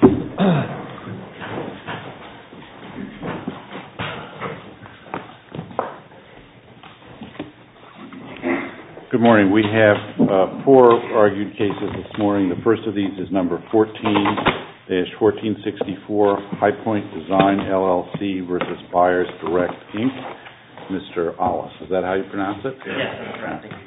Good morning. We have four argued cases this morning. The first of these is number 14-1464, High Point Design LLC v. Buyer''s Direct, Inc. Mr. Aulis. Is that how you pronounce it? Yes.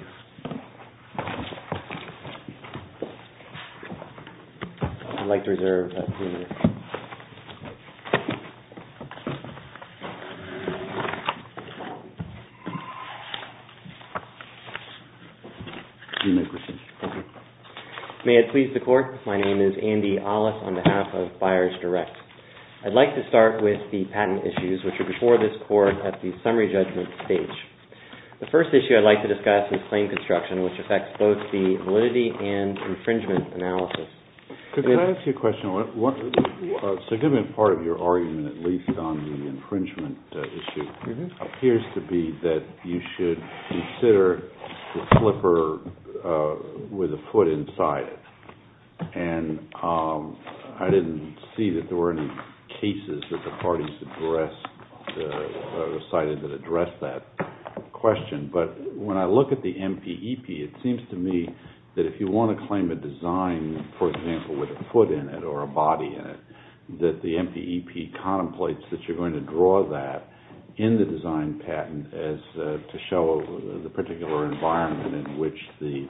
May it please the court, my name is Andy Aulis on behalf of Buyer''s Direct, Inc. I''d like to start with the patent issues, which are before this court at the summary judgment stage. The first issue I''d like to discuss is claim construction, which affects both the validity and infringement analysis. Could I ask you a question? A significant part of your argument, at least on the infringement issue, appears to be that you should consider the flipper with a foot inside it. I didn''t see that there were any cases that the parties cited that addressed that question, but when I look at the MPEP, it seems to me that if you want to claim a design, for example, with a foot in it or a body in it, that the MPEP contemplates that you''re going to draw that in the design patent to show the particular environment in which the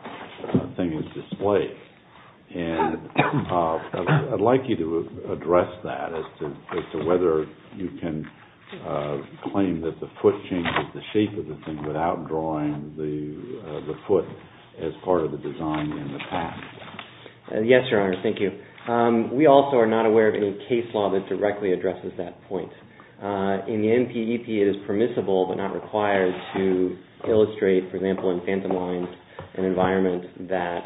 thing is displayed. And I''d like you to address that as to whether you can claim that the foot changes the shape of the thing without drawing the foot as part of the design in the patent. Yes, Your Honor, thank you. We also are not aware of any case law that directly addresses that point. In the MPEP, it is permissible but not required to illustrate, for example, in phantom lines, an environment that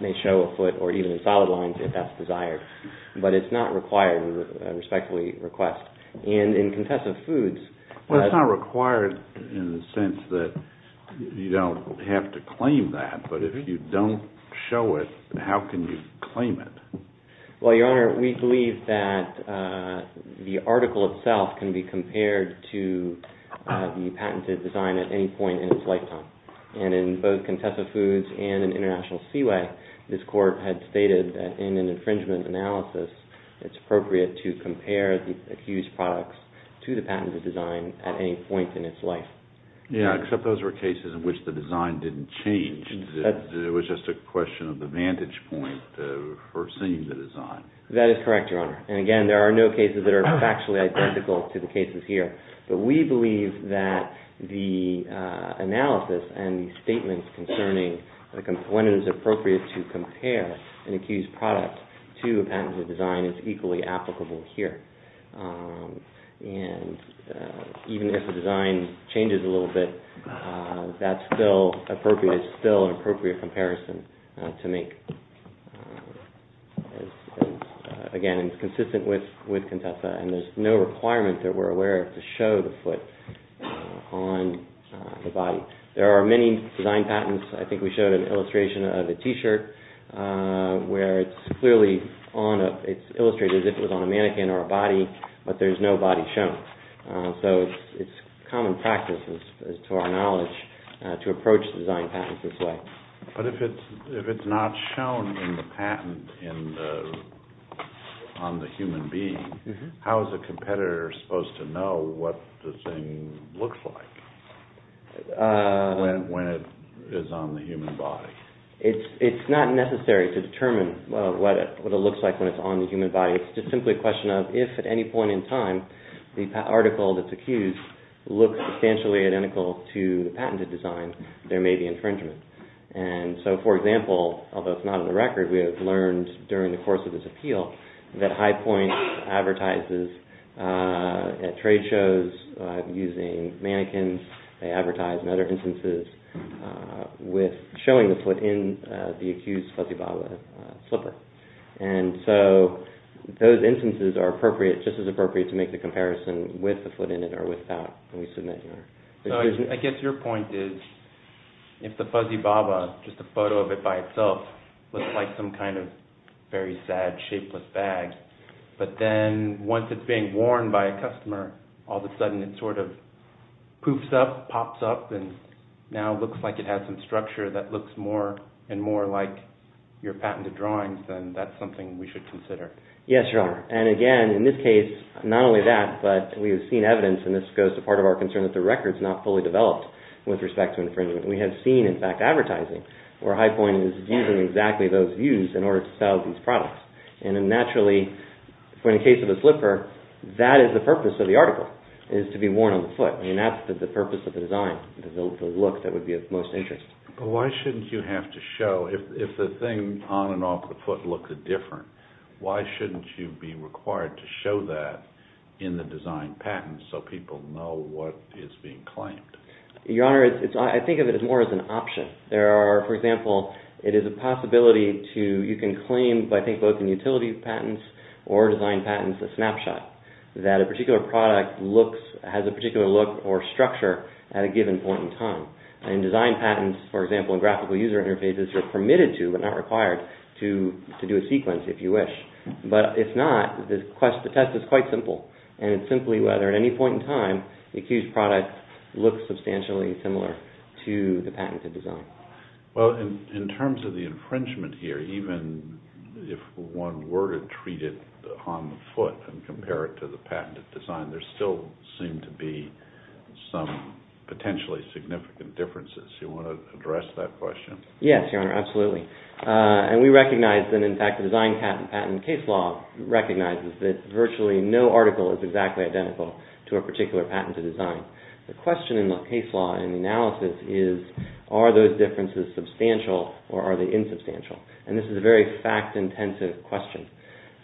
may show a foot or even in solid lines if that''s desired. But it''s not required, we respectfully request. And in contest of foods... Well, it''s not required in the sense that you don''t have to claim that, but if you don''t show it, how can you claim it? Well, Your Honor, we believe that the article itself can be compared to the patented design at any point in its lifetime. And in both contest of foods and in international seaway, this court had stated that in an infringement analysis, it''s appropriate to compare the accused products to the patented design at any point in its life. Yeah, except those were cases in which the design didn''t change. It was just a question of the vantage point foreseeing the design. That is correct, Your Honor. And again, there are no cases that are factually identical to the cases here. But we believe that the analysis and the statements concerning when it is appropriate to compare an accused product to a patented design is equally applicable here. And even if the design changes a little bit, that''s still appropriate. It''s still an appropriate comparison to make. Again, it''s consistent with Contessa, and there''s no requirement that we''re aware of to show the foot on the body. There are many design patents. I think we showed an illustration of a T-shirt where it''s illustrated as if it was on a mannequin or a body, but there''s no body shown. So it''s common practice, to our knowledge, to approach design patents this way. But if it''s not shown in the patent on the human being, how is a competitor supposed to know what the thing looks like when it is on the human body? It''s not necessary to determine what it looks like when it''s on the human body. It''s just simply a question of if at any point in time the article that''s accused looks substantially identical to the patented design, there may be infringement. For example, although it''s not on the record, we have learned during the course of this appeal that High Point advertises at trade shows using mannequins. They advertise in other instances with showing the foot in the accused''s fuzzy bobber slipper. So those instances are just as appropriate to make the comparison with the foot in it or without when we submit your decision. So I guess your point is if the fuzzy bobber, just a photo of it by itself, looks like some kind of very sad shapeless bag, but then once it''s being worn by a customer, all of a sudden it sort of poofs up, pops up, and now looks like it has some structure that looks more and more like your patented drawings, then that''s something we should consider. Yes, Your Honor. And again, in this case, not only that, but we have seen evidence and this goes to part of our concern that the record''s not fully developed with respect to infringement. We have seen, in fact, advertising where High Point is using exactly those views in order to sell these products. And naturally, in the case of a slipper, that is the purpose of the article, is to be worn on the foot. I mean, that''s the purpose of the design, the look that would be of most interest. But why shouldn''t you have to show, if the thing on and off the foot looks different, why shouldn''t you be required to show that in the design patents so people know what is being claimed? Your Honor, I think of it more as an option. There are, for example, it is a possibility to, you can claim, I think both in utility patents or design patents, a snapshot that a particular product looks, has a particular look or structure at a given point in time. In design patents, for example, in graphical user interfaces, you are permitted to, but not required, to do a sequence if you wish. But if not, the test is quite simple and it is simply whether at any point in time the accused product looks substantially similar to the patented design. Well, in terms of the infringement here, even if one were to treat it on the foot and compare it to the patented design, there still seem to be some potentially significant differences. Do you want to address that question? Yes, Your Honor, absolutely. And we recognize that, in fact, the design patent case law recognizes that virtually no article is exactly identical to a particular patented design. The question in the case law, in the analysis, is are those differences substantial or are they insubstantial? And this is a very fact-intensive question.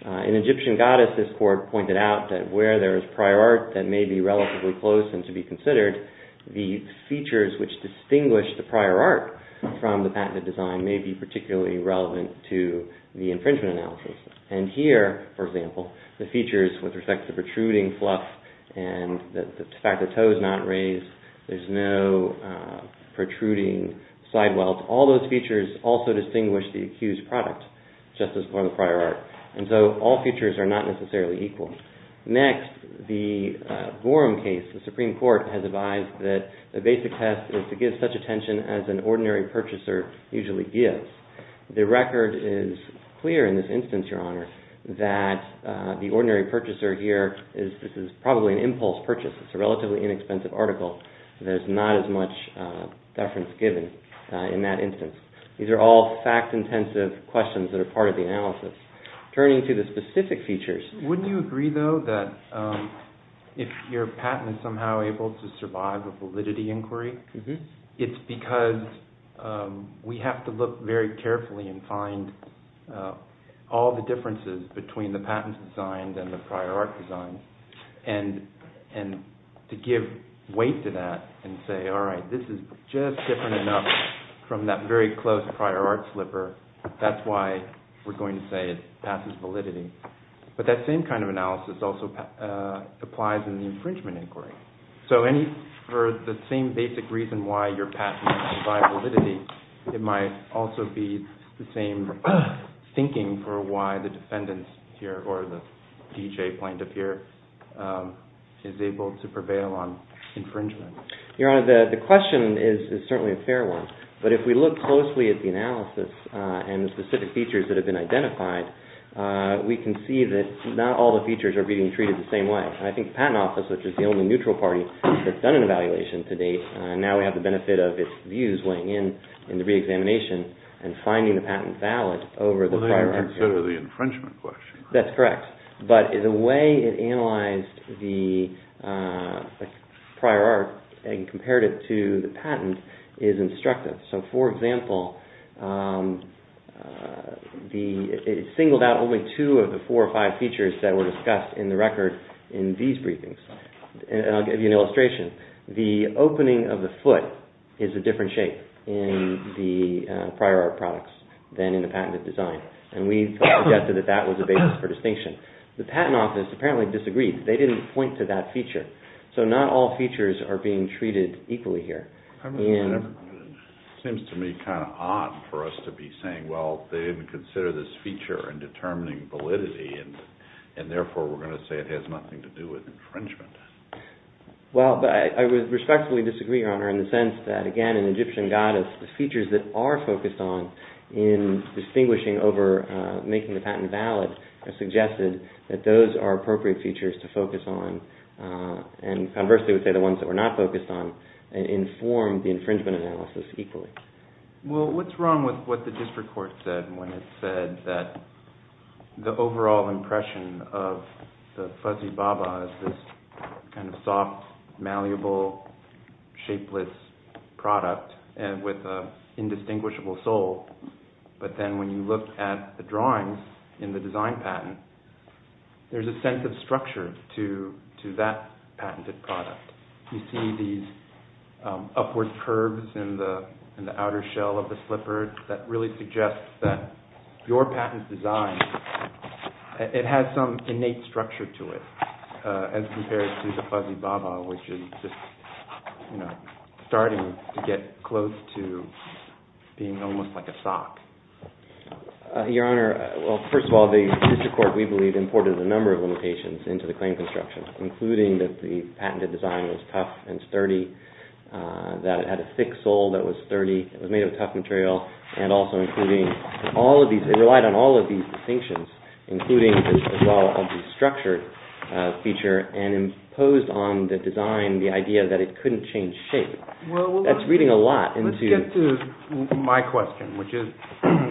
In Egyptian Goddess, this court pointed out that where there is prior art that may be relatively close and to be considered, the features which distinguish the prior art from the patented design may be particularly relevant to the infringement analysis. And here, for example, the features with respect to the protruding fluff and the fact that the toe is not raised, there is no protruding side welt, all those features also distinguish the accused product, just as for the prior art. And so all features are not necessarily equal. Next, the Gorham case, the Supreme Court has advised that the basic test is to give such attention as an ordinary purchaser usually gives. The record is clear in this instance, Your Honor, that the ordinary purchaser here is probably an impulse purchase. It's a relatively inexpensive article. There's not as much deference given in that instance. These are all fact-intensive questions that are part of the analysis. Turning to the specific features... Wouldn't you agree, though, that if your patent is somehow able to survive a validity inquiry, it's because we have to look very carefully and find all the differences between the patent design and the prior art design and to give weight to that and say, all right, this is just different enough from that very close prior art slipper. That's why we're going to say it passes validity. But that same kind of analysis also applies in the infringement inquiry. So for the same basic reason why your patent survives validity, it might also be the same thinking for why the defendant here or the D.J. plaintiff here is able to prevail on infringement. Your Honor, the question is certainly a fair one. But if we look closely at the analysis and the specific features that have been identified, we can see that not all the features are being treated the same way. I think the Patent Office, which is the only neutral party that's done an evaluation to date, now we have the benefit of its views weighing in in the reexamination and finding the patent valid over the prior art. Well, they don't consider the infringement question. That's correct. But the way it analyzed the prior art and compared it to the patent is instructive. So for example, it singled out only two of the four or five features that were discussed in the record in these briefings. And I'll give you an illustration. The opening of the foot is a different shape in the prior art products than in the patented design. And we've suggested that that was a basis for distinction. The Patent Office apparently disagreed. They didn't point to that feature. So not all features are being treated equally here. It seems to me kind of odd for us to be saying, well, they didn't consider this feature in determining validity and therefore we're going to say it has nothing to do with infringement. Well, I would respectfully disagree, Your Honor, in the sense that, again, in Egyptian goddess, the features that are focused on in distinguishing over making the patent valid are suggested that those are appropriate features to focus on. And conversely, we say the ones that we're not focused on inform the infringement analysis equally. Well, what's wrong with what the district court said when it said that the overall impression of the fuzzy baba is this kind of soft, malleable, shapeless product with an indistinguishable sole. But then when you look at the drawings in the design patent, there's a sense of structure to that patented product. You see these upward curves in the outer shell of the slipper that really suggests that your patent design, it has some innate structure to it as compared to the fuzzy baba, which is just, you know, starting to get close to being almost like a sock. Your Honor, well, first of all, the district court, we believe, imported a number of limitations into the claim construction, including that the patented design was tough and sturdy, that it had a thick sole that was sturdy, it was made of tough material, and also including all of these, it relied on all of these distinctions, including as well the structure feature and imposed on the design the idea that it couldn't change shape. That's reading a lot into... Let's get to my question, which is,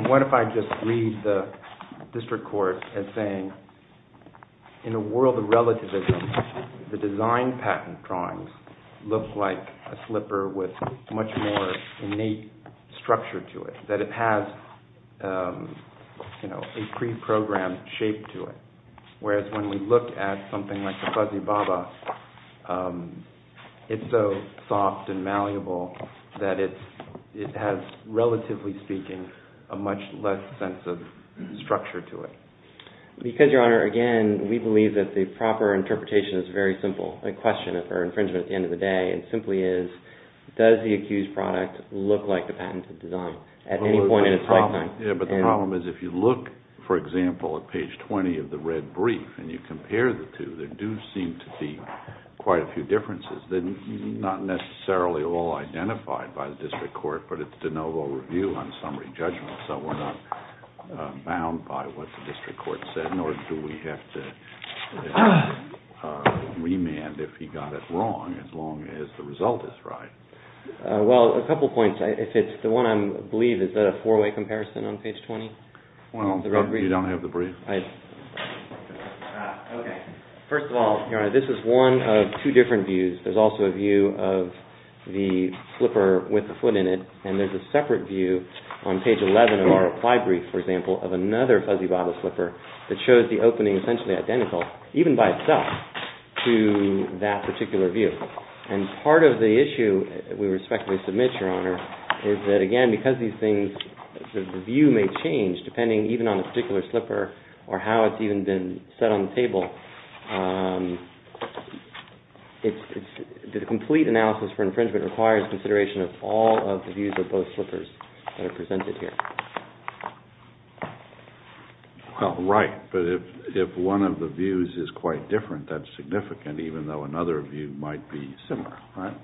what if I just read the district court as saying, in a world of relativism, the design patent drawings look like a slipper with much more innate structure to it, that it has a pre-programmed shape to it, whereas when we look at something like the fuzzy baba, it's so soft and malleable that it has, relatively speaking, a much less sense of structure to it. Because, Your Honor, again, we believe that the proper interpretation is very simple, a question of infringement at the end of the day, and simply is, does the accused product look like the patented design at any point in its lifetime? Yeah, but the problem is, if you look, for example, at page 20 of the red brief, and you compare the two, there do seem to be quite a few differences that are not necessarily all identified by the district court, but it's de novo review on summary judgment, so we're not bound by what the district court said, nor do we have to remand if he got it wrong, as long as the result is right. Well, a couple points. If it's the one I believe, is that a four-way comparison on page 20? Well, you don't have the brief. First of all, Your Honor, this is one of two different views. There's also a view of the slipper with the foot in it, and there's a separate view on page 11 of our reply brief, for example, of another fuzzy bottle slipper that shows the opening essentially identical, even by itself, to that particular view. And part of the issue we respectfully submit, Your Honor, is that, again, because these things, the view may change depending even on the particular slipper or how it's even been set on the table. The complete analysis for infringement requires consideration of all of the views of both slippers that are presented here. Well, right. But if one of the views is quite different, that's significant, even though another view might be similar, right?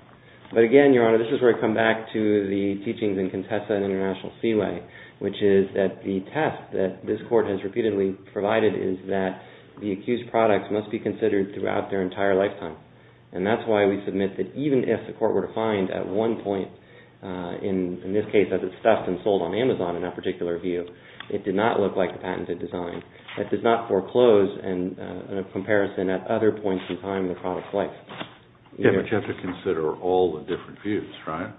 But, again, Your Honor, this is where we come back to the teachings in Contessa and International Seaway, which is that the test that this Court has repeatedly provided is that the accused product must be considered throughout their entire lifetime. And that's why we submit that even if the court were to find at one point, in this case, that it's stuffed and sold on Amazon in that particular view, it did not look like the patented design. That does not foreclose a comparison at other points in time in the product's life. Yeah, but you have to consider all the different views, right?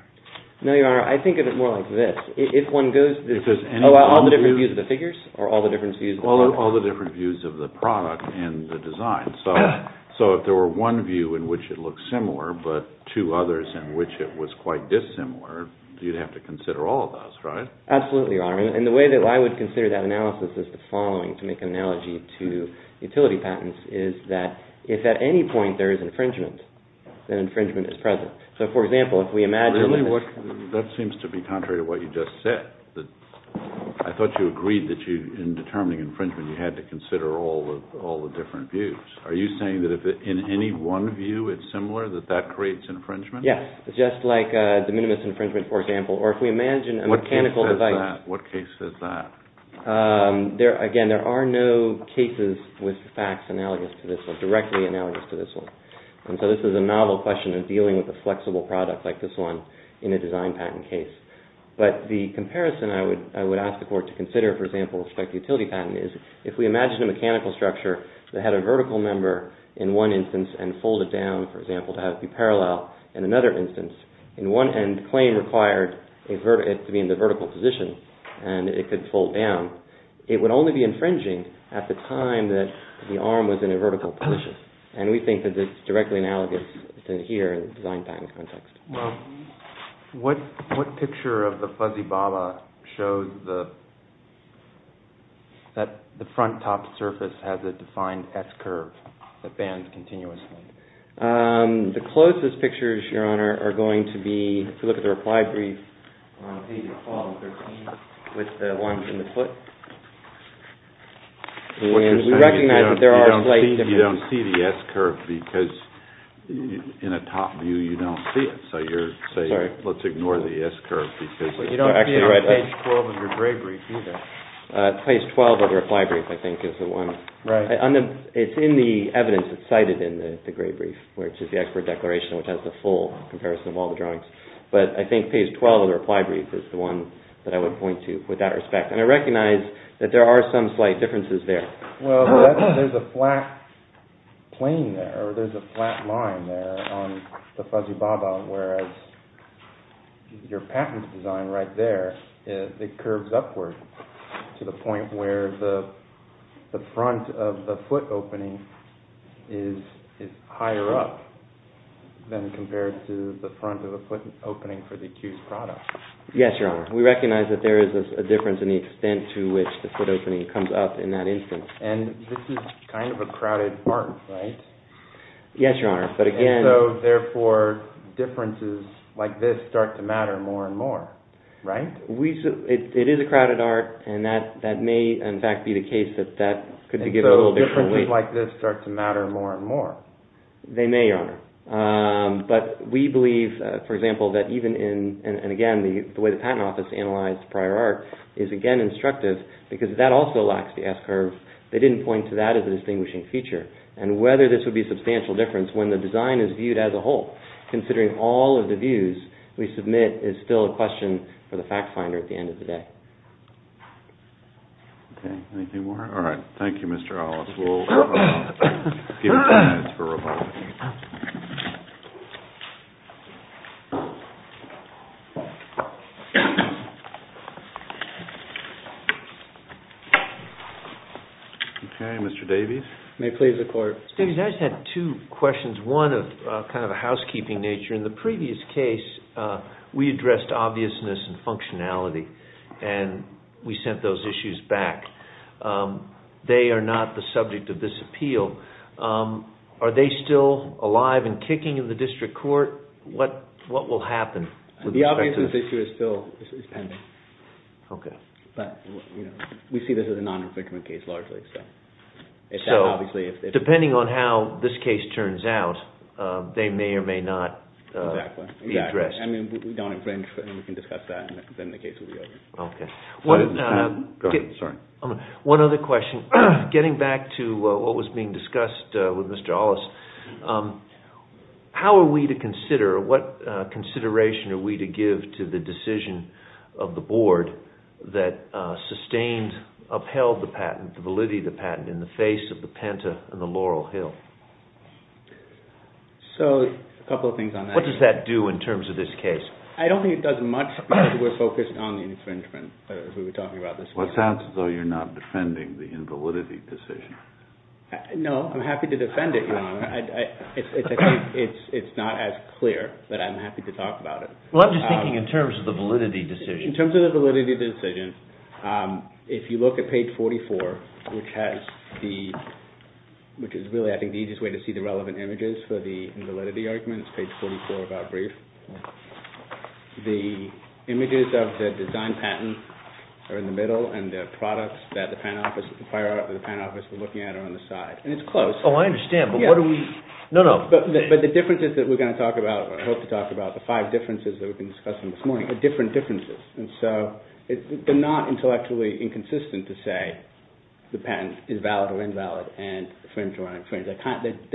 No, Your Honor. I think of it more like this. All the different views of the figures or all the different views of the product? All the different views of the product and the design. So if there were one view in which it looked similar but two others in which it was quite dissimilar, you'd have to consider all of those, right? Absolutely, Your Honor. And the way that I would consider that analysis is the following, to make an analogy to utility patents, is that if at any point there is infringement, then infringement is present. Really? That seems to be contrary to what you just said. I thought you agreed that in determining infringement you had to consider all the different views. Are you saying that if in any one view it's similar, that that creates infringement? Yes, just like de minimis infringement, for example. What case says that? Again, there are no cases with facts analogous to this one, directly analogous to this one. And so this is a novel question in dealing with a flexible product like this one in a design patent case. But the comparison I would ask the Court to consider, for example, with respect to utility patents, is if we imagine a mechanical structure that had a vertical member in one instance and folded down, for example, to have it be parallel in another instance, in one end the claim required it to be in the vertical position and it could fold down, it would only be infringing at the time that the arm was in a vertical position. And we think that it's directly analogous to here in the design patent context. Well, what picture of the fuzzy baba shows that the front top surface has a defined S-curve that bends continuously? The closest pictures, Your Honor, are going to be if you look at the reply brief on page 12 and 13 with the one in the foot. You don't see the S-curve because in a top view you don't see it. So you're saying let's ignore the S-curve. You don't see it on page 12 of your gray brief either. Page 12 of the reply brief, I think, is the one. It's in the evidence that's cited in the gray brief, which is the expert declaration, which has the full comparison of all the drawings. But I think page 12 of the reply brief is the one that I would point to with that respect. And I recognize that there are some slight differences there. Well, there's a flat plane there, or there's a flat line there on the fuzzy baba, whereas your patent design right there, it curves upward to the point where the front of the foot opening is higher up than compared to the front of the foot opening for the accused product. Yes, Your Honor. We recognize that there is a difference in the extent to which the foot opening comes up in that instance. And this is kind of a crowded art, right? Yes, Your Honor. And so, therefore, differences like this start to matter more and more, right? It is a crowded art, and that may, in fact, be the case that that could be given a little different weight. And so differences like this start to matter more and more. They may, Your Honor. But we believe, for example, that even in – and again, the way the Patent Office analyzed prior art is, again, instructive, because that also lacks the S-curve. They didn't point to that as a distinguishing feature. And whether this would be a substantial difference when the design is viewed as a whole, considering all of the views we submit is still a question for the fact finder at the end of the day. Okay. Anything more? All right. Thank you, Mr. Hollis. Okay, Mr. Davies. May it please the Court. Mr. Davies, I just had two questions, one of kind of a housekeeping nature. In the previous case, we addressed obviousness and functionality, and we sent those issues back. They are not the subject of this appeal. Are they still alive and kicking in the district court? What will happen? The obviousness issue is still pending. Okay. But, you know, we see this as a non-inflictment case, largely. So, depending on how this case turns out, they may or may not be addressed. Exactly. I mean, we don't infringe, and we can discuss that, and then the case will be over. Okay. Go ahead. Sorry. One other question. Getting back to what was being discussed with Mr. Hollis, how are we to consider, what consideration are we to give to the decision of the Board that sustained, upheld the patent, the validity of the patent, in the face of the Penta and the Laurel Hill? So, a couple of things on that. What does that do in terms of this case? I don't think it does much because we're focused on the infringement, as we were talking about this morning. Well, it sounds as though you're not defending the invalidity decision. No, I'm happy to defend it, Your Honor. It's not as clear, but I'm happy to talk about it. Well, I'm just thinking in terms of the validity decision. In terms of the validity decision, if you look at page 44, which is really, I think, the easiest way to see the relevant images for the invalidity argument, it's page 44 of our brief. The images of the design patent are in the middle, and the products that the Pant Office, the prior art of the Pant Office, we're looking at are on the side. And it's close. Oh, I understand, but what do we, no, no. But the differences that we're going to talk about, or I hope to talk about the five differences that we've been discussing this morning, they're different differences. And so they're not intellectually inconsistent to say the patent is valid or invalid. They're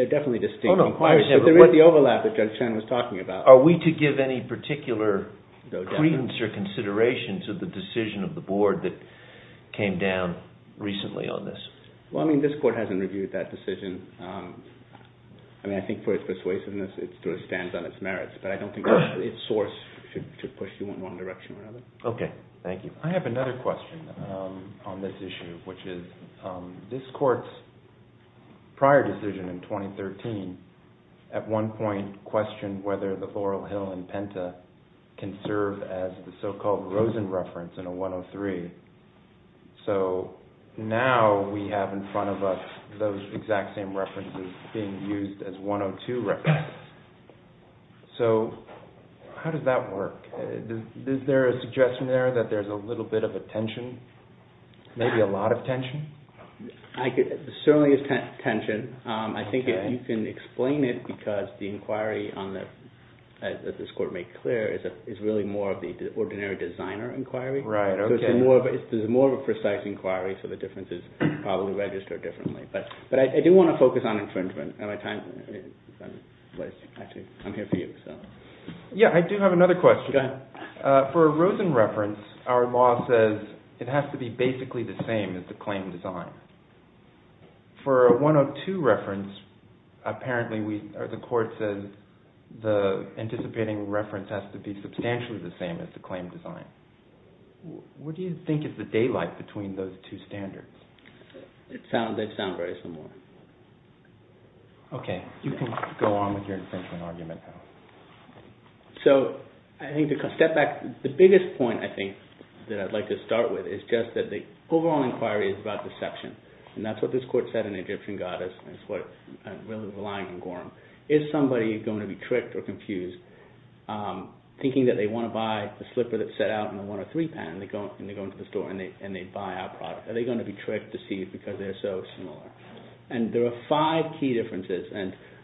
definitely distinct. But there is the overlap that Judge Chen was talking about. Are we to give any particular credence or consideration to the decision of the Board that came down recently on this? Well, I mean, this Court hasn't reviewed that decision. I mean, I think for its persuasiveness, it sort of stands on its merits. But I don't think its source should push you in one direction or another. Okay. Thank you. I have another question on this issue, which is this Court's prior decision in 2013, at one point questioned whether the Laurel Hill and Penta can serve as the so-called Rosen reference in a 103. So now we have in front of us those exact same references being used as 102 references. So how does that work? Is there a suggestion there that there's a little bit of a tension, maybe a lot of tension? There certainly is tension. I think you can explain it because the inquiry that this Court made clear is really more of the ordinary designer inquiry. Right. Okay. So there's more of a precise inquiry, so the differences probably register differently. But I do want to focus on infringement. I'm here for you. Yeah, I do have another question. Go ahead. For a Rosen reference, our law says it has to be basically the same as the claim design. For a 102 reference, apparently the Court says the anticipating reference has to be substantially the same as the claim design. What do you think is the daylight between those two standards? They sound very similar. Okay. You can go on with your infringement argument, though. So I think to step back, the biggest point I think that I'd like to start with is just that the overall inquiry is about deception. And that's what this Court said in Egyptian Goddess. That's what I'm really relying on, Gorham. Is somebody going to be tricked or confused thinking that they want to buy a slipper that's set out in a 103 patent, and they go into the store and they buy our product? Are they going to be tricked, deceived, because they're so similar? And there are five key differences.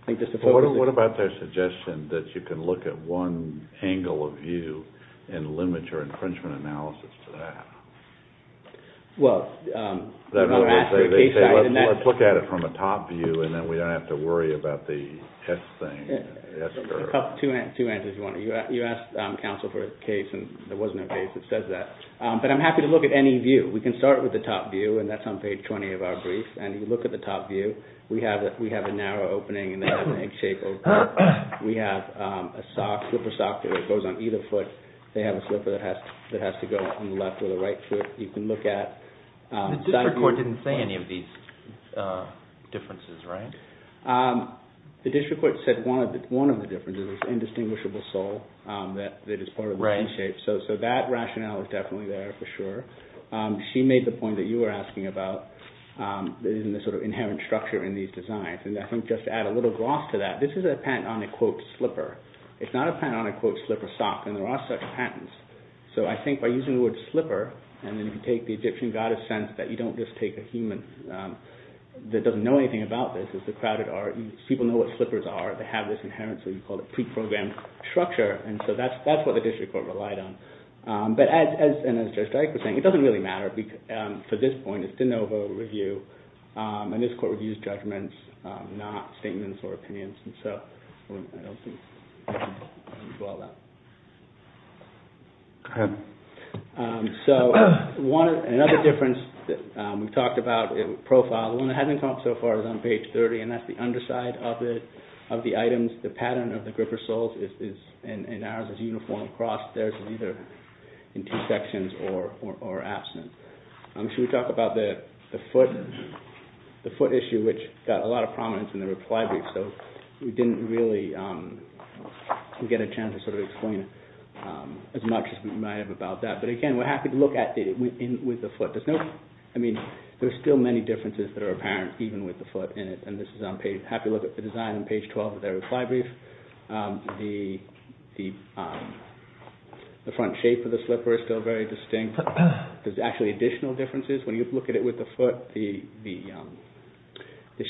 What about their suggestion that you can look at one angle of view and limit your infringement analysis to that? Well, let's look at it from a top view, and then we don't have to worry about the S thing. Two answers, if you want. You asked counsel for a case, and there was no case that says that. But I'm happy to look at any view. We can start with the top view, and that's on page 20 of our brief. And you look at the top view. We have a narrow opening and an egg-shaped opening. We have a slipper sock that goes on either foot. They have a slipper that has to go on the left or the right foot. You can look at side view. The district court didn't say any of these differences, right? The district court said one of the differences is indistinguishable sole that is part of the egg shape. So that rationale is definitely there for sure. She made the point that you were asking about in the sort of inherent structure in these designs. And I think just to add a little gloss to that, this is a patent on a, quote, slipper. It's not a patent on a, quote, slipper sock, and there are such patents. So I think by using the word slipper, and then if you take the Egyptian goddess sense, that you don't just take a human that doesn't know anything about this. It's a crowded art. People know what slippers are. They have this inherent, so you call it pre-programmed structure. And so that's what the district court relied on. But as Judge Dyke was saying, it doesn't really matter for this point. It's de novo review. And this court reviews judgments, not statements or opinions. And so I don't think we can dwell on that. So another difference that we've talked about in profile, the one that hasn't come up so far is on page 30, and that's the underside of it, of the items. The pattern of the gripper soles is, in ours, is uniform across. Theirs is either in T-sections or absent. Should we talk about the foot issue, which got a lot of prominence in the reply brief? So we didn't really get a chance to sort of explain as much as we might have about that. But again, we're happy to look at it with the foot. There's no, I mean, there's still many differences that are apparent, even with the foot in it. And this is on page, happy to look at the design on page 12 of the reply brief. The front shape of the slipper is still very distinct. There's actually additional differences. When you look at it with the foot, the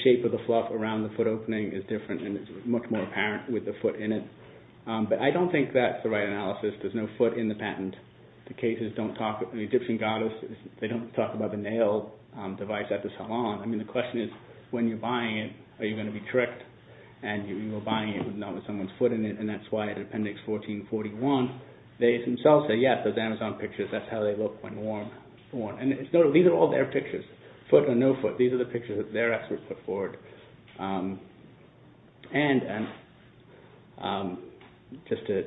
shape of the fluff around the foot opening is different, and it's much more apparent with the foot in it. But I don't think that's the right analysis. There's no foot in the patent. The cases don't talk, the Egyptian goddess, they don't talk about the nail device at the salon. I mean, the question is, when you're buying it, are you going to be tricked? And you're buying it not with someone's foot in it, and that's why it's Appendix 1441. They themselves say, yes, those Amazon pictures, that's how they look when worn. And these are all their pictures, foot or no foot. These are the pictures that their experts put forward. Just to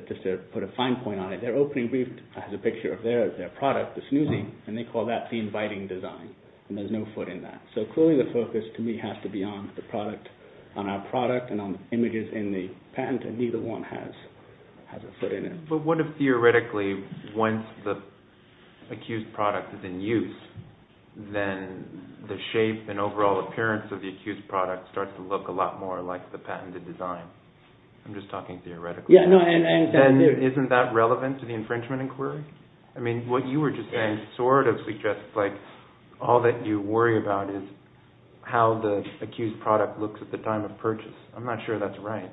put a fine point on it, their opening brief has a picture of their product, the Snoozy, and they call that the inviting design, and there's no foot in that. So clearly the focus, to me, has to be on our product and on images in the patent, and neither one has a foot in it. But what if, theoretically, once the accused product is in use, then the shape and overall appearance of the accused product starts to look a lot more like the patented design? I'm just talking theoretically. Then isn't that relevant to the infringement inquiry? I mean, what you were just saying sort of suggests all that you worry about is how the accused product looks at the time of purchase. I'm not sure that's right.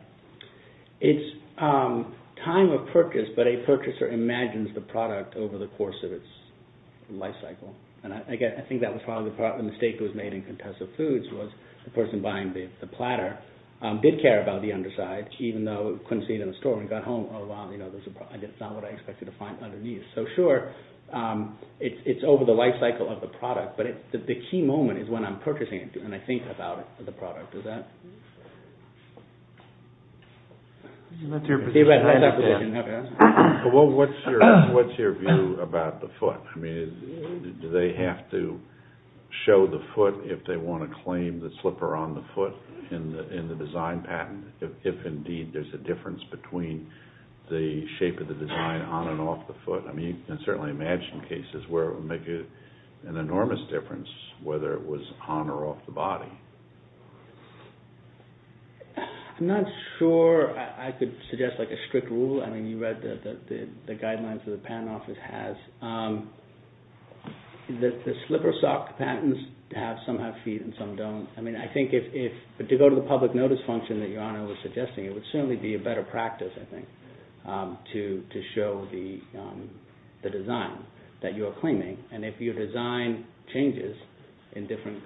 It's time of purchase, but a purchaser imagines the product over the course of its life cycle. And I think that was probably the mistake that was made in Contessa Foods, was the person buying the platter did care about the underside, even though he couldn't see it in the store when he got home. Oh, wow, that's not what I expected to find underneath. So sure, it's over the life cycle of the product, but the key moment is when I'm purchasing it and I think about the product. Does that answer your question? Well, what's your view about the foot? I mean, do they have to show the foot if they want to claim the slipper on the foot in the design patent? If indeed there's a difference between the shape of the design on and off the foot? I mean, you can certainly imagine cases where it would make an enormous difference whether it was on or off the body. I'm not sure I could suggest like a strict rule. I mean, you read the guidelines that the patent office has. The slipper sock patents have some have feet and some don't. I mean, I think to go to the public notice function that Your Honor was suggesting, it would certainly be a better practice, I think, to show the design that you're claiming. And if your design changes in different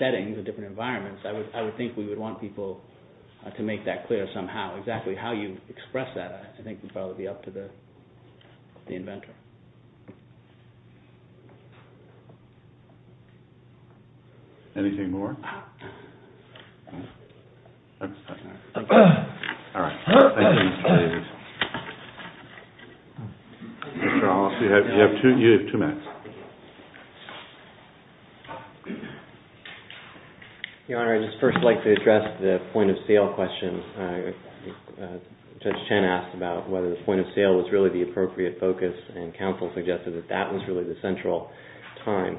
settings or different environments, I would think we would want people to make that clear somehow. Exactly how you express that, I think, would probably be up to the inventor. Anything more? All right. Thank you, Mr. Davis. Mr. Ross, you have two minutes. Your Honor, I'd just first like to address the point of sale question. Judge Chen asked about whether the point of sale was really the appropriate focus and counsel suggested that that was really the central time.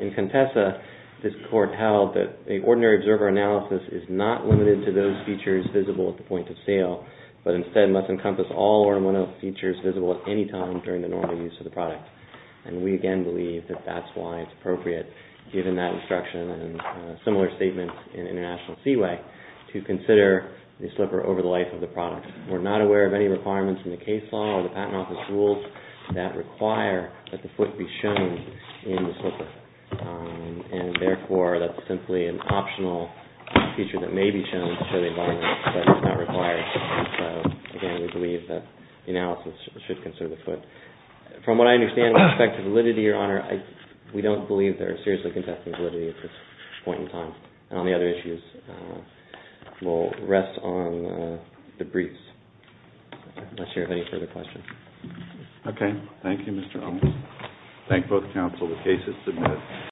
In Contessa, this court held that an ordinary observer analysis is not limited to those features visible at the point of sale, but instead must encompass all or one of the features visible at any time during the normal use of the product. And we again believe that that's why it's appropriate, given that instruction and similar statements in International Seaway, to consider the slipper over the life of the product. We're not aware of any requirements in the case law or the patent office rules that require that the foot be shown in the slipper. And therefore, that's simply an optional feature that may be shown to show the environment, but is not required. So, again, we believe that the analysis should consider the foot. From what I understand with respect to validity, Your Honor, we don't believe there is seriously contesting validity at this point in time. And on the other issues, we'll rest on the briefs. Unless you have any further questions. Okay. Thank you, Mr. Owens. Thank both counsel. The case is submitted.